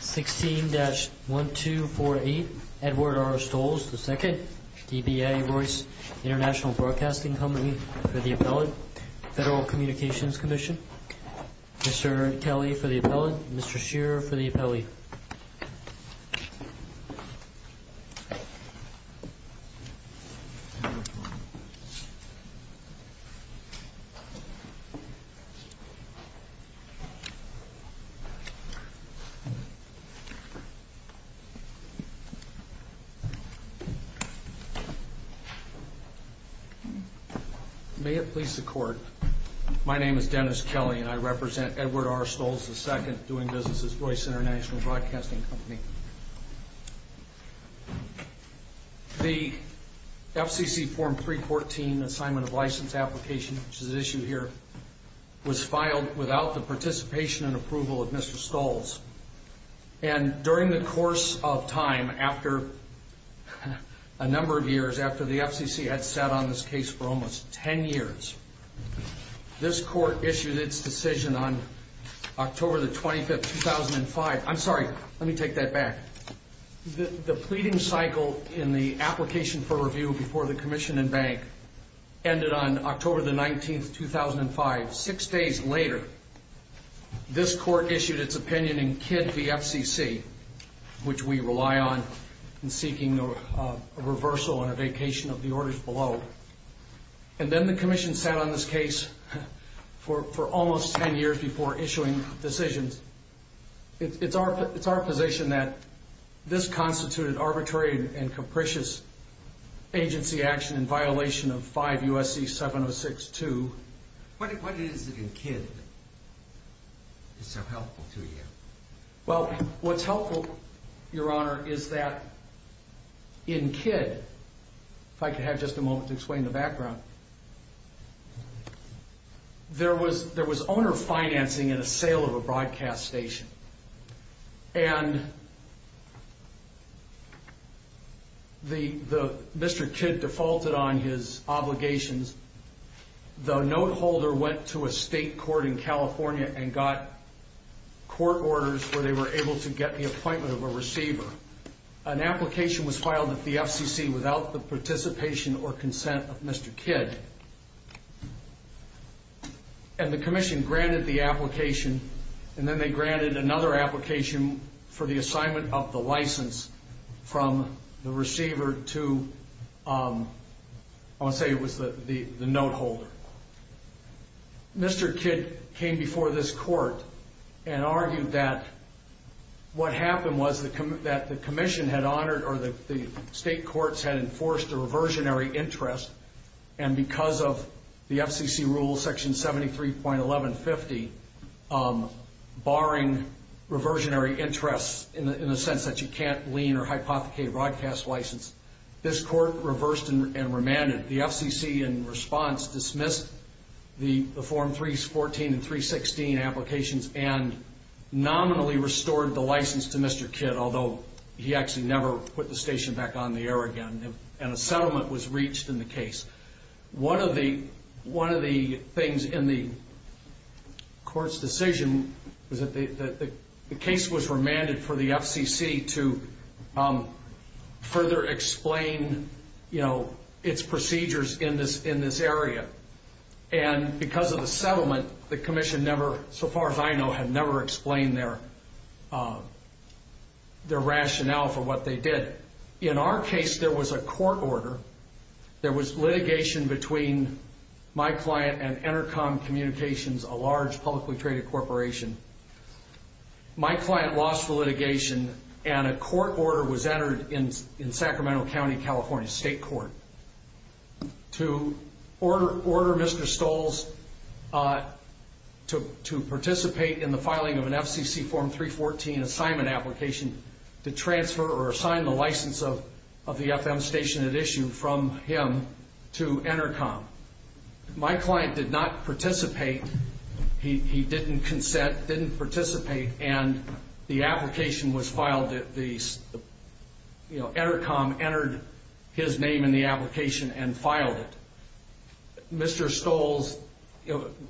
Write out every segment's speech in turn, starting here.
16-1248 Edward R. Stolz, II DBA Voice International Broadcasting Company for the Appellate Federal Communications Commission Mr. Kelly for the Appellate Mr. Shearer for the Appellate May it please the Court, my name is Dennis Kelly and I represent Edward R. Stolz, II doing business as Voice International Broadcasting Company The FCC Form 314, Assignment of License Application which is issued here was filed without the participation and approval of Mr. Stolz and during the course of time, after a number of years, after the FCC had sat on this case for almost 10 years this Court issued its decision on October 25, 2005 I'm sorry, let me take that back The pleading cycle in the application for review before the Commission and Bank ended on October 19, 2005. Six days later, this Court issued its opinion in KID v. FCC which we rely on in seeking a reversal and a vacation of the orders below and then the Commission sat on this case for almost 10 years before issuing decisions It's our position that this constituted arbitrary and capricious agency action in violation of 5 U.S.C. 706-2 What is it in KID that is so helpful to you? Well, what's helpful, Your Honor, is that in KID, if I could have just a moment to explain the background There was owner financing and a sale of a broadcast station and Mr. KID defaulted on his obligations The note holder went to a state court in California and got court orders where they were able to get the appointment of a receiver An application was filed at the FCC without the participation or consent of Mr. KID and the Commission granted the application and then they granted another application for the assignment of the license from the receiver to, I want to say it was the note holder Mr. KID came before this court and argued that what happened was that the Commission had honored or the state courts had enforced a reversionary interest and because of the FCC rule section 73.1150 barring reversionary interests in the sense that you can't lien or hypothecate a broadcast license this court reversed and remanded and the FCC in response dismissed the Form 314 and 316 applications and nominally restored the license to Mr. KID although he actually never put the station back on the air again and a settlement was reached in the case One of the things in the court's decision the case was remanded for the FCC to further explain its procedures in this area and because of the settlement the Commission never, so far as I know had never explained their rationale for what they did In our case there was a court order there was litigation between my client and Enercom Communications a large publicly traded corporation my client lost the litigation and a court order was entered in Sacramento County, California State Court to order Mr. Stolls to participate in the filing of an FCC Form 314 assignment application to transfer or assign the license of the FM station at issue from him to Enercom My client did not participate he didn't consent, didn't participate and the application was filed Enercom entered his name in the application and filed it Mr. Stolls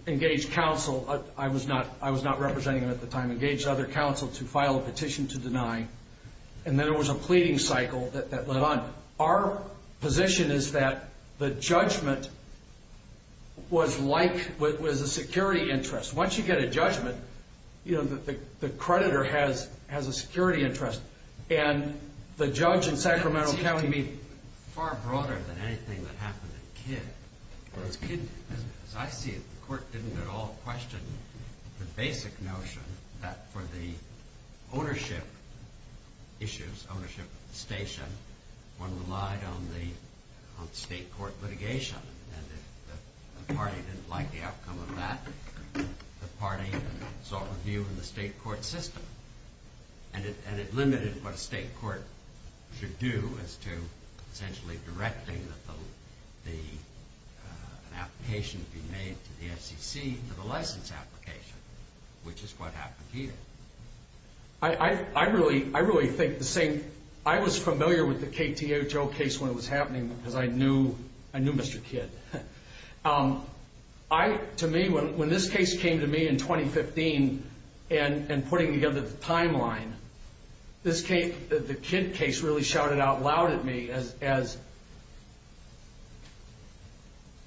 engaged counsel I was not representing him at the time engaged other counsel to file a petition to deny and then there was a pleading cycle that went on Our position is that the judgment was a security interest Once you get a judgment, the creditor has a security interest and the judge in Sacramento County It seems to be far broader than anything that happened at Kidd As I see it, the court didn't at all question the basic notion that for the ownership issues, ownership of the station one relied on the state court litigation and if the party didn't like the outcome of that the party sought review in the state court system and it limited what a state court should do as to essentially directing an application to be made to the FCC to the license application, which is what happened here I really think the same I was familiar with the KTHO case when it was happening because I knew Mr. Kidd To me, when this case came to me in 2015 and putting together the timeline the Kidd case really shouted out loud at me as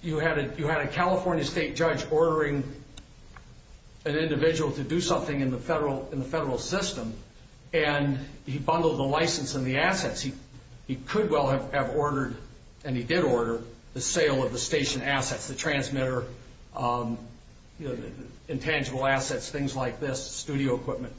you had a California state judge ordering an individual to do something in the federal system and he bundled the license and the assets He could well have ordered, and he did order the sale of the station assets, the transmitter intangible assets, things like this, studio equipment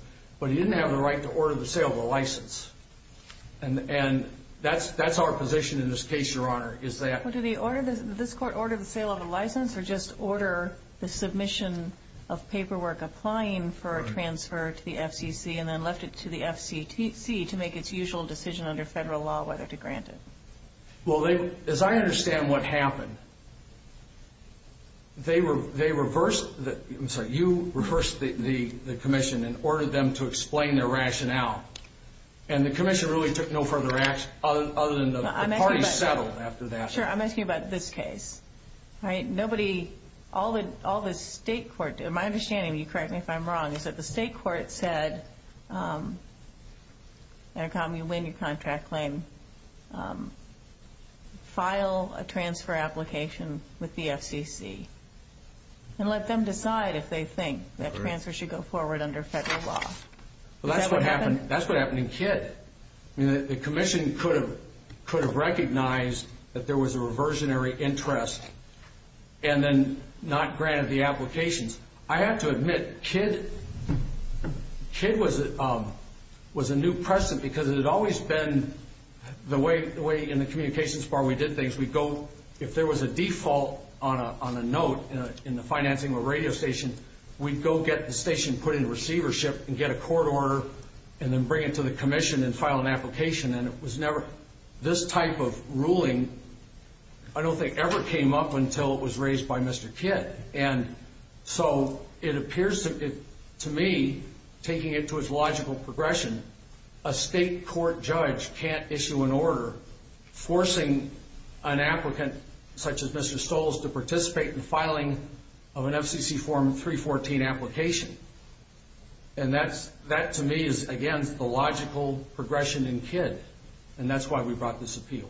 and that's our position in this case, Your Honor Did this court order the sale of the license or just order the submission of paperwork applying for a transfer to the FCC and then left it to the FCC to make its usual decision under federal law whether to grant it? As I understand what happened you reversed the commission and ordered them to explain their rationale and the commission really took no further action other than the parties settled after that I'm asking about this case All the state court did My understanding, correct me if I'm wrong is that the state court said when you win your contract claim file a transfer application with the FCC and let them decide if they think that transfer should go forward under federal law That's what happened in Kidd The commission could have recognized that there was a reversionary interest and then not granted the applications I have to admit, Kidd was a new person because it had always been the way in the communications bar we did things If there was a default on a note in the financing of a radio station we'd go get the station put into receivership and get a court order and then bring it to the commission and file an application This type of ruling I don't think ever came up until it was raised by Mr. Kidd It appears to me taking it to its logical progression a state court judge can't issue an order forcing an applicant such as Mr. Stolls to participate in filing of an FCC Form 314 application That to me is against the logical progression in Kidd and that's why we brought this appeal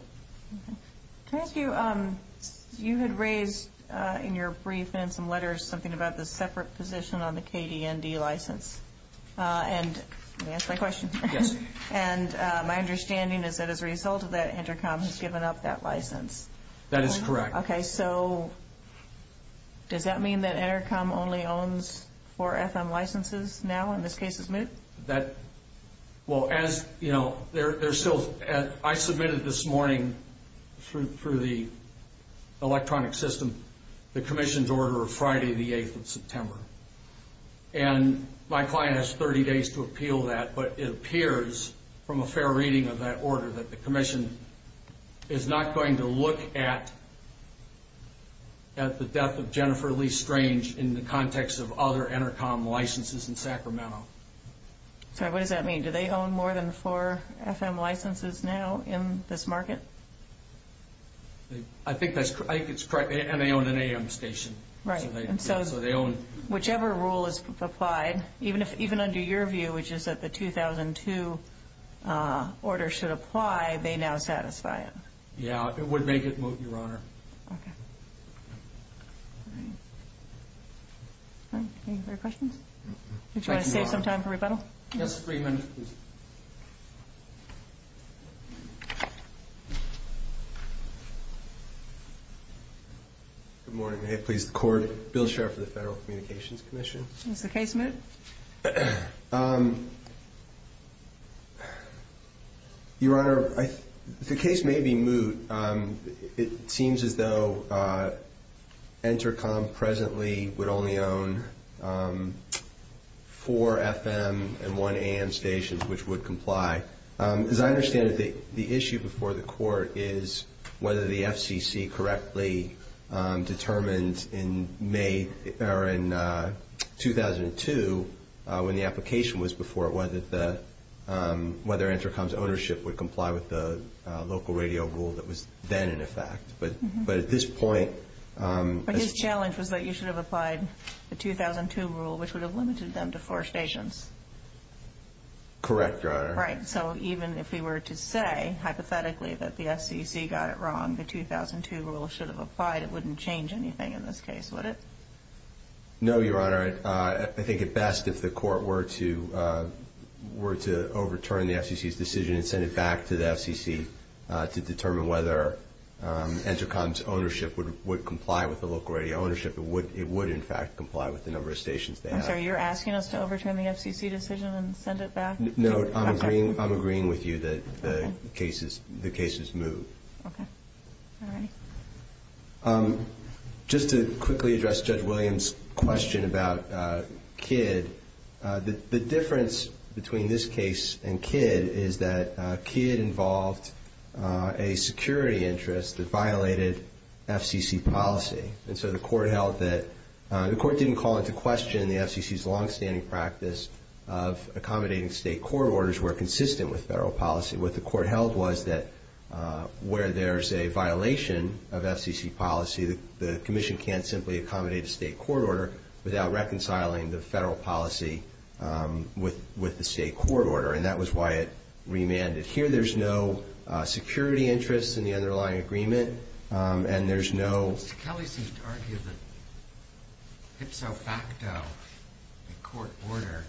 You had raised in your brief something about the separate position on the KDND license Let me answer my question My understanding is that as a result of that Intercom has given up that license That is correct Does that mean that Intercom only owns 4 FM licenses now and this case is moot? I submitted this morning through the electronic system the commission's order for Friday the 8th of September My client has 30 days to appeal that but it appears from a fair reading of that order that the commission is not going to look at the death of Jennifer Lee Strange in the context of other Intercom licenses in Sacramento What does that mean? Do they own more than 4 FM licenses now in this market? I think that's correct and they own an AM station Whichever rule is applied even under your view, which is that the 2002 order should apply, they now satisfy it Yeah, it would make it moot, Your Honor Do you want to save some time for rebuttal? Good morning, may it please the court Bill Sherr for the Federal Communications Commission Is the case moot? Your Honor The case may be moot It seems as though Intercom presently would only own 4 FM and 1 AM stations which would comply As I understand it, the issue before the court is whether the FCC correctly determined in 2002 when the application was before whether Intercom's ownership would comply with the local radio rule that was then in effect But his challenge was that you should have applied the 2002 rule, which would have limited them to 4 stations Correct, Your Honor Right, so even if we were to say hypothetically that the FCC got it wrong the 2002 rule should have applied it wouldn't change anything in this case, would it? No, Your Honor I think it best if the court were to overturn the FCC's decision and send it back to the FCC to determine whether Intercom's ownership would comply with the local radio ownership It would in fact comply with the number of stations they have I'm sorry, you're asking us to overturn the FCC decision and send it back? No, I'm agreeing with you that the case is moot Just to quickly address Judge Williams' question about KID The difference between this case and KID is that KID involved a security interest that violated FCC policy The court didn't call into question the FCC's long-standing practice of accommodating state court orders where consistent with federal policy What the court held was that where there's a violation of FCC policy the commission can't simply accommodate a state court order without reconciling the federal policy with the state court order and that was why it remanded Here there's no security interest in the underlying agreement and there's no... Mr. Kelly seems to argue that ipso facto, a court order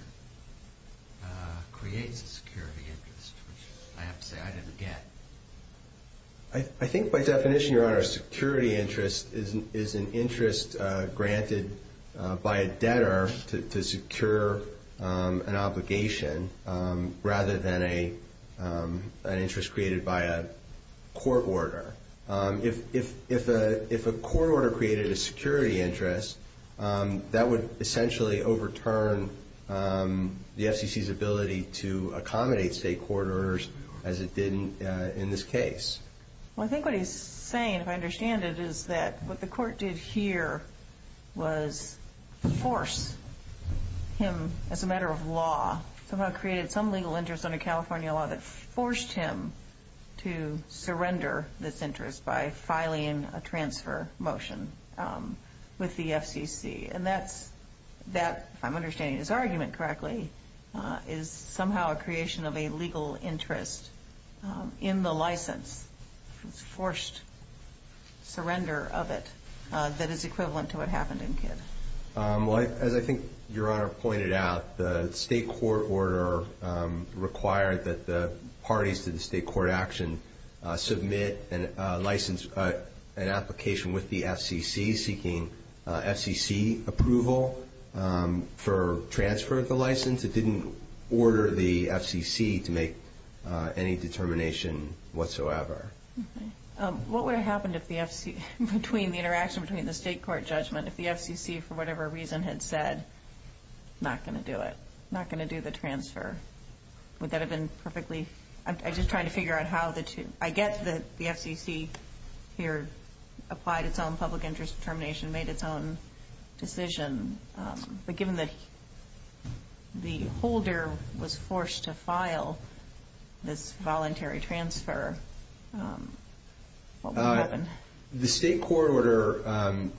creates a security interest which I have to say I didn't get I think by definition, Your Honor a security interest is an interest granted by a debtor to secure an obligation rather than an interest created by a court order If a court order created a security interest that would essentially overturn the FCC's ability to accommodate state court orders as it did in this case I think what he's saying, if I understand it, is that what the court did here was force him, as a matter of law somehow created some legal interest under California law that forced him to surrender this interest by filing a transfer motion with the FCC and that, if I'm understanding his argument correctly is somehow a creation of a legal interest in the license forced surrender of it that is equivalent to what happened in Kidd As I think Your Honor pointed out the state court order required that the parties to the state court action submit an application with the FCC seeking FCC approval for transfer of the license it didn't order the FCC to make any determination whatsoever What would have happened between the interaction between the state court judgment if the FCC for whatever reason had said not going to do it, not going to do the transfer would that have been perfectly, I'm just trying to figure out how I get that the FCC here applied its own public interest determination made its own decision but given that the holder was forced to file this voluntary transfer what would have happened? The state court order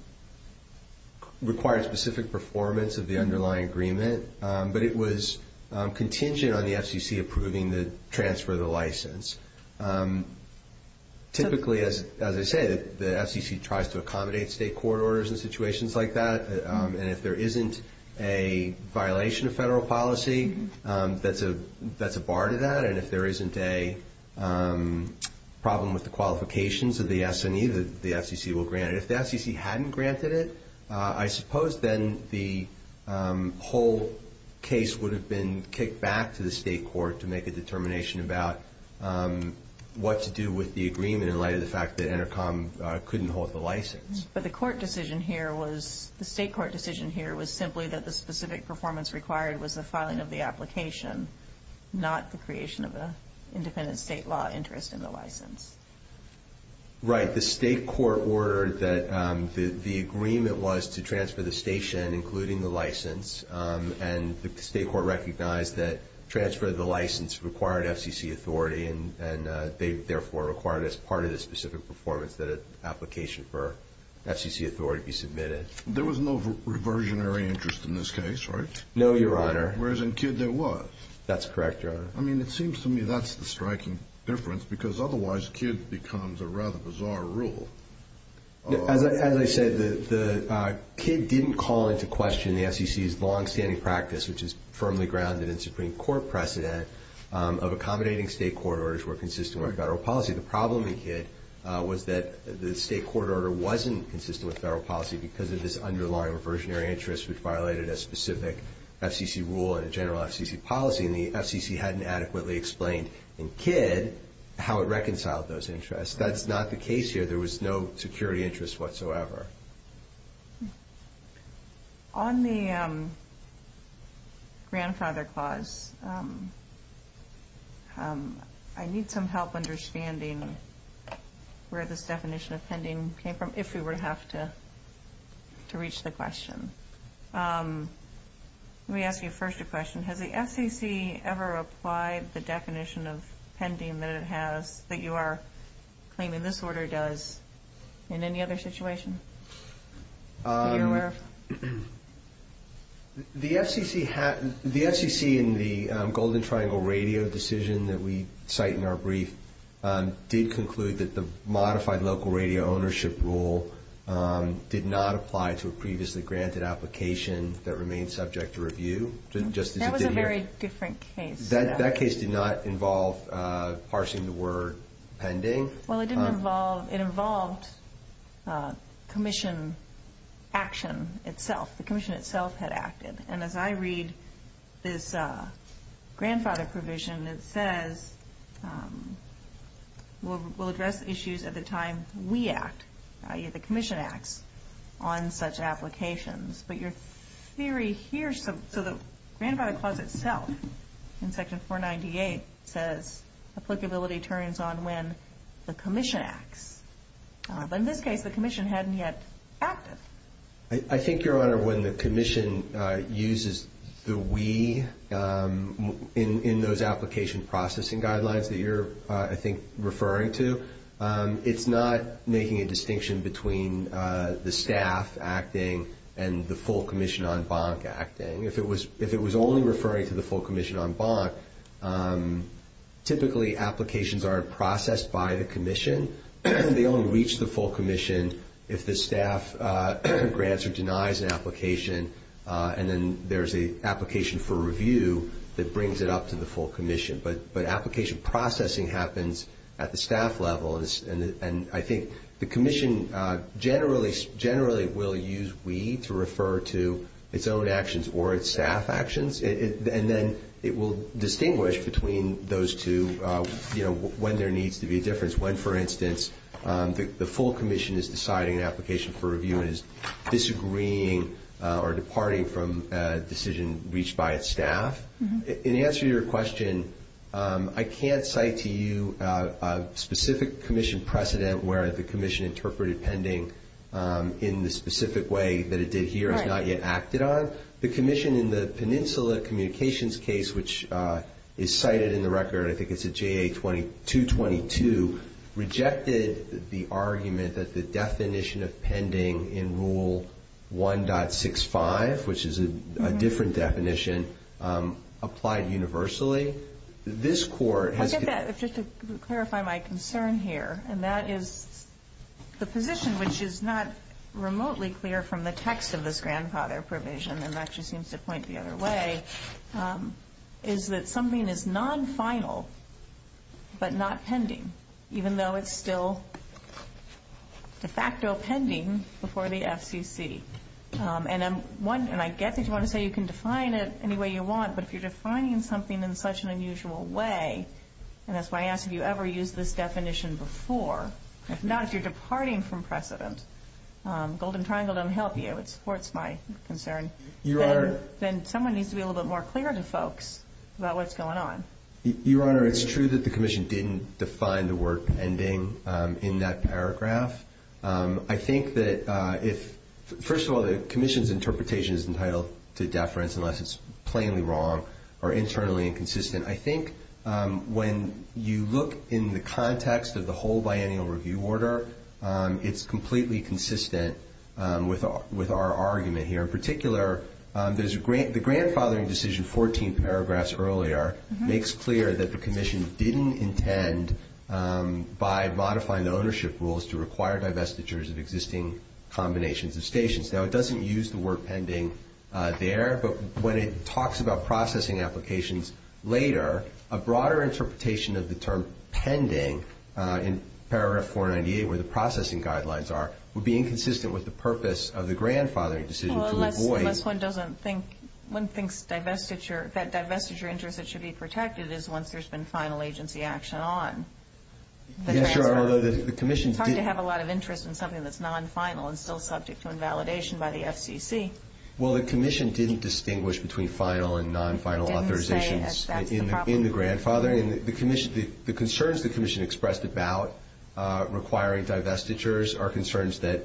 required specific performance of the underlying agreement but it was contingent on the FCC approving the transfer of the license Typically, as I said, the FCC tries to accommodate state court orders in situations like that and if there isn't a violation of federal policy that's a bar to that and if there isn't a problem with the qualifications of the S&E, the FCC will grant it If the FCC hadn't granted it, I suppose then the whole case would have been kicked back to the state court to make a determination about what to do with the agreement in light of the fact that Intercom couldn't hold the license But the court decision here was the state court decision here was simply that the specific performance required was the filing of the application not the creation of an independent state law interest in the license Right, the state court ordered that the agreement was to transfer the station including the license and the state court recognized that transfer of the license required FCC authority and they therefore required as part of the specific performance that an application for FCC authority be submitted There was no reversionary interest in this case, right? No, your honor. Whereas in KID there was That's correct, your honor. I mean, it seems to me that's the striking difference because otherwise KID becomes a rather bizarre rule As I said, the KID didn't call into question the FCC's long-standing practice, which is firmly grounded in Supreme Court precedent of accommodating state court orders where consistent with the state court order wasn't consistent with federal policy because of this underlying reversionary interest which violated a specific FCC rule and general FCC policy and the FCC hadn't adequately explained in KID how it reconciled those interests. That's not the case here There was no security interest whatsoever On the grandfather clause I need some help understanding where this definition of pending came from if we were to have to reach the question Let me ask you first a question. Has the FCC ever applied the definition of pending that it has that you are claiming this order does in any other situation? The FCC The FCC in the golden triangle The local radio decision that we cite in our brief did conclude that the modified local radio ownership rule did not apply to a previously granted application that remained subject to review That was a very different case That case did not involve parsing the word pending It involved commission action itself. The commission itself had acted As I read this grandfather provision it says we'll address issues at the time we act, i.e. the commission acts on such applications The grandfather clause itself in section 498 says applicability turns on when the commission acts In this case the commission hadn't yet acted I think, Your Honor, when the commission uses the we in those application processing guidelines that you're I think referring to it's not making a distinction between the staff acting and the full commission on bonk acting If it was only referring to the full commission on bonk typically applications aren't processed by the commission They only reach the full commission if the staff grants or denies an application and then there's an application for review that brings it up to the full commission but application processing happens at the staff level and I think the commission generally will use we to refer to its own actions or its staff actions and then it will distinguish between those two when there needs to be a difference when, for instance, the full commission is deciding an application for review and is disagreeing or departing from a decision reached by its staff In answer to your question I can't cite to you a specific commission precedent where the commission interpreted pending in the specific way that it did here and has not yet acted on The commission in the peninsula communications case which is cited in the record I think it's a JA 222 rejected the argument that the definition of pending in rule 1.65 which is a different definition applied universally Just to clarify my concern here and that is the position which is not remotely clear from the text of this grandfather provision and that just seems to point the other way is that something is non-final but not pending even though it's still de facto pending before the FCC and I get that you want to say you can define it any way you want but if you're defining something in such an unusual way and that's why I asked if you ever used this definition before if not, if you're departing from precedent Golden Triangle don't help you then someone needs to be a little bit more clear to folks about what's going on Your Honor, it's true that the commission didn't define the word pending in that paragraph First of all, the commission's interpretation is entitled to deference unless it's plainly wrong or internally inconsistent I think when you look in the context of the whole with our argument here in particular, the grandfathering decision 14 paragraphs earlier makes clear that the commission didn't intend by modifying the ownership rules to require divestitures of existing combinations of stations Now it doesn't use the word pending there but when it talks about processing applications later a broader interpretation of the term pending in paragraph 498 where the processing guidelines are would be inconsistent with the purpose of the grandfathering decision Unless one thinks that divestiture that divestiture interest that should be protected is once there's been final agency action on It's hard to have a lot of interest in something that's non-final and still subject to invalidation by the FCC Well, the commission didn't distinguish between final and non-final authorizations in the grandfathering The concerns the commission expressed about requiring divestitures are concerns that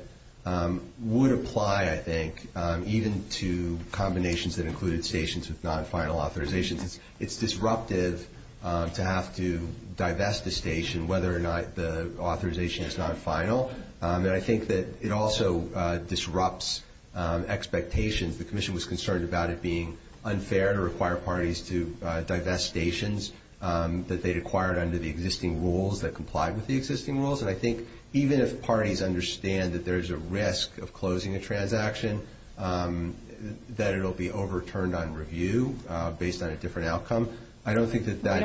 would apply I think even to combinations that included stations with non-final authorizations It's disruptive to have to divest a station whether or not the authorization is non-final I think that it also disrupts expectations The commission was concerned about it being unfair to require parties to divest stations that they'd acquired under the existing rules that complied with the existing rules Even if parties understand that there's a risk of closing a transaction that it'll be overturned on review based on a different outcome We don't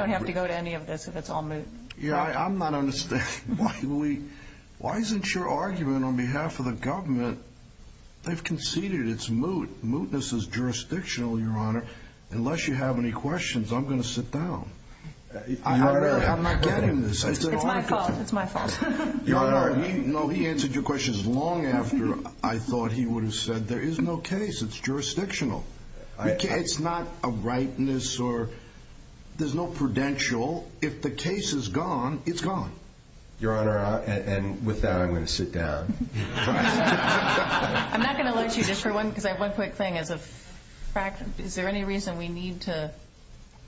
have to go to any of this if it's all moot Yeah, I'm not understanding Why isn't your argument on behalf of the government They've conceded it's moot. Mootness is jurisdictional Unless you have any questions, I'm going to sit down I'm not getting this It's my fault He answered your questions long after I thought he would have said there is no case, it's jurisdictional It's not a rightness or there's no prudential. If the case is gone, it's gone Your Honor, and with that I'm going to sit down I'm not going to let you One quick thing Is there any reason we need to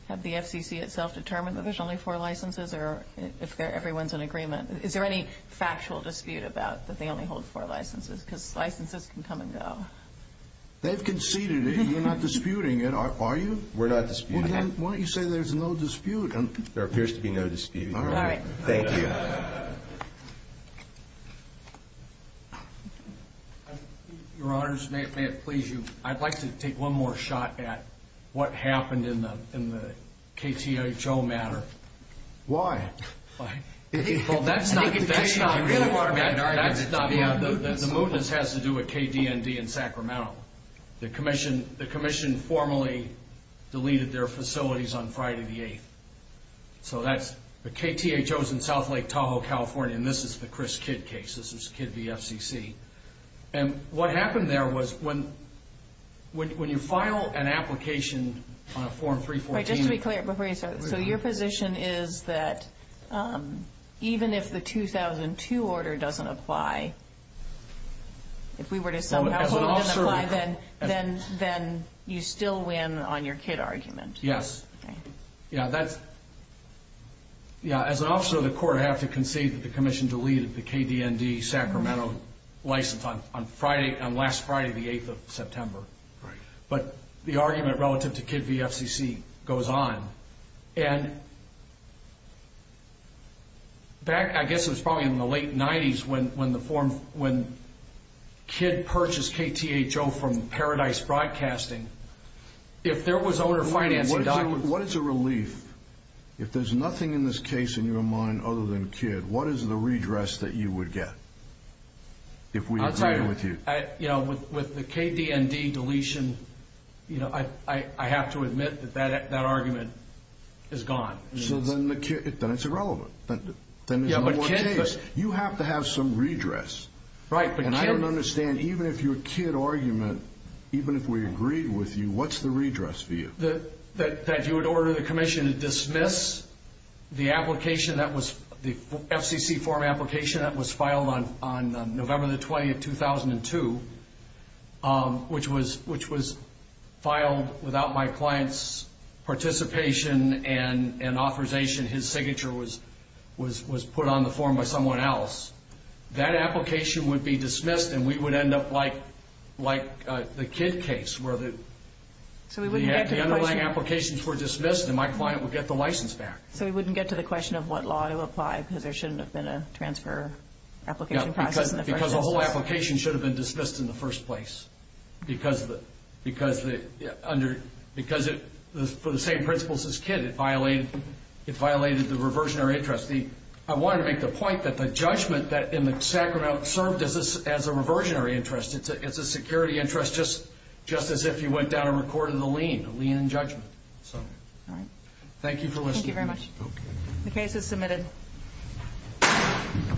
have the FCC itself determine that there's only four licenses or if everyone's in agreement Is there any factual dispute about that they only hold four licenses because licenses can come and go They've conceded it. You're not disputing it, are you? We're not disputing it. Why don't you say there's no dispute There appears to be no dispute Thank you Your Honor, may it please you I'd like to take one more shot at what happened in the KTHO matter Why? The mootness has to do with KDND in Sacramento The commission formally deleted their facilities on Friday the 8th The KTHO is in South Lake Tahoe, California This is the Chris Kidd case. This is Kidd v. FCC What happened there was when you file an application on a Form 314 Your position is that even if the 2002 order doesn't apply if we were to somehow hold it doesn't apply then you still win on your Kidd argument Yes As an officer of the court I have to concede that the commission deleted the KDND Sacramento license on last Friday the 8th of September But the argument relative to Kidd v. FCC goes on I guess it was probably in the late 90s when Kidd purchased KTHO from Paradise Broadcasting If there was owner financing documents What is a relief? If there is nothing in this case in your mind other than Kidd, what is the redress that you would get? With the KDND deletion I have to admit that that argument is gone Then it's irrelevant You have to have some redress I don't understand even if your Kidd argument even if we agreed with you, what's the redress for you? That you would order the commission to dismiss the FCC form application that was filed on November 20, 2002 which was filed without my client's participation and authorization His signature was put on the form by someone else That application would be dismissed and we would end up like the Kidd case where the underlying applications were dismissed and my client would get the license back So we wouldn't get to the question of what law to apply because there shouldn't have been a transfer application process Because the whole application should have been dismissed in the first place Because for the same principles as Kidd it violated the reversionary interest I wanted to make the point that the judgment in the Sacramento served as a reversionary interest It's a security interest just as if you went down and recorded the lien Thank you for listening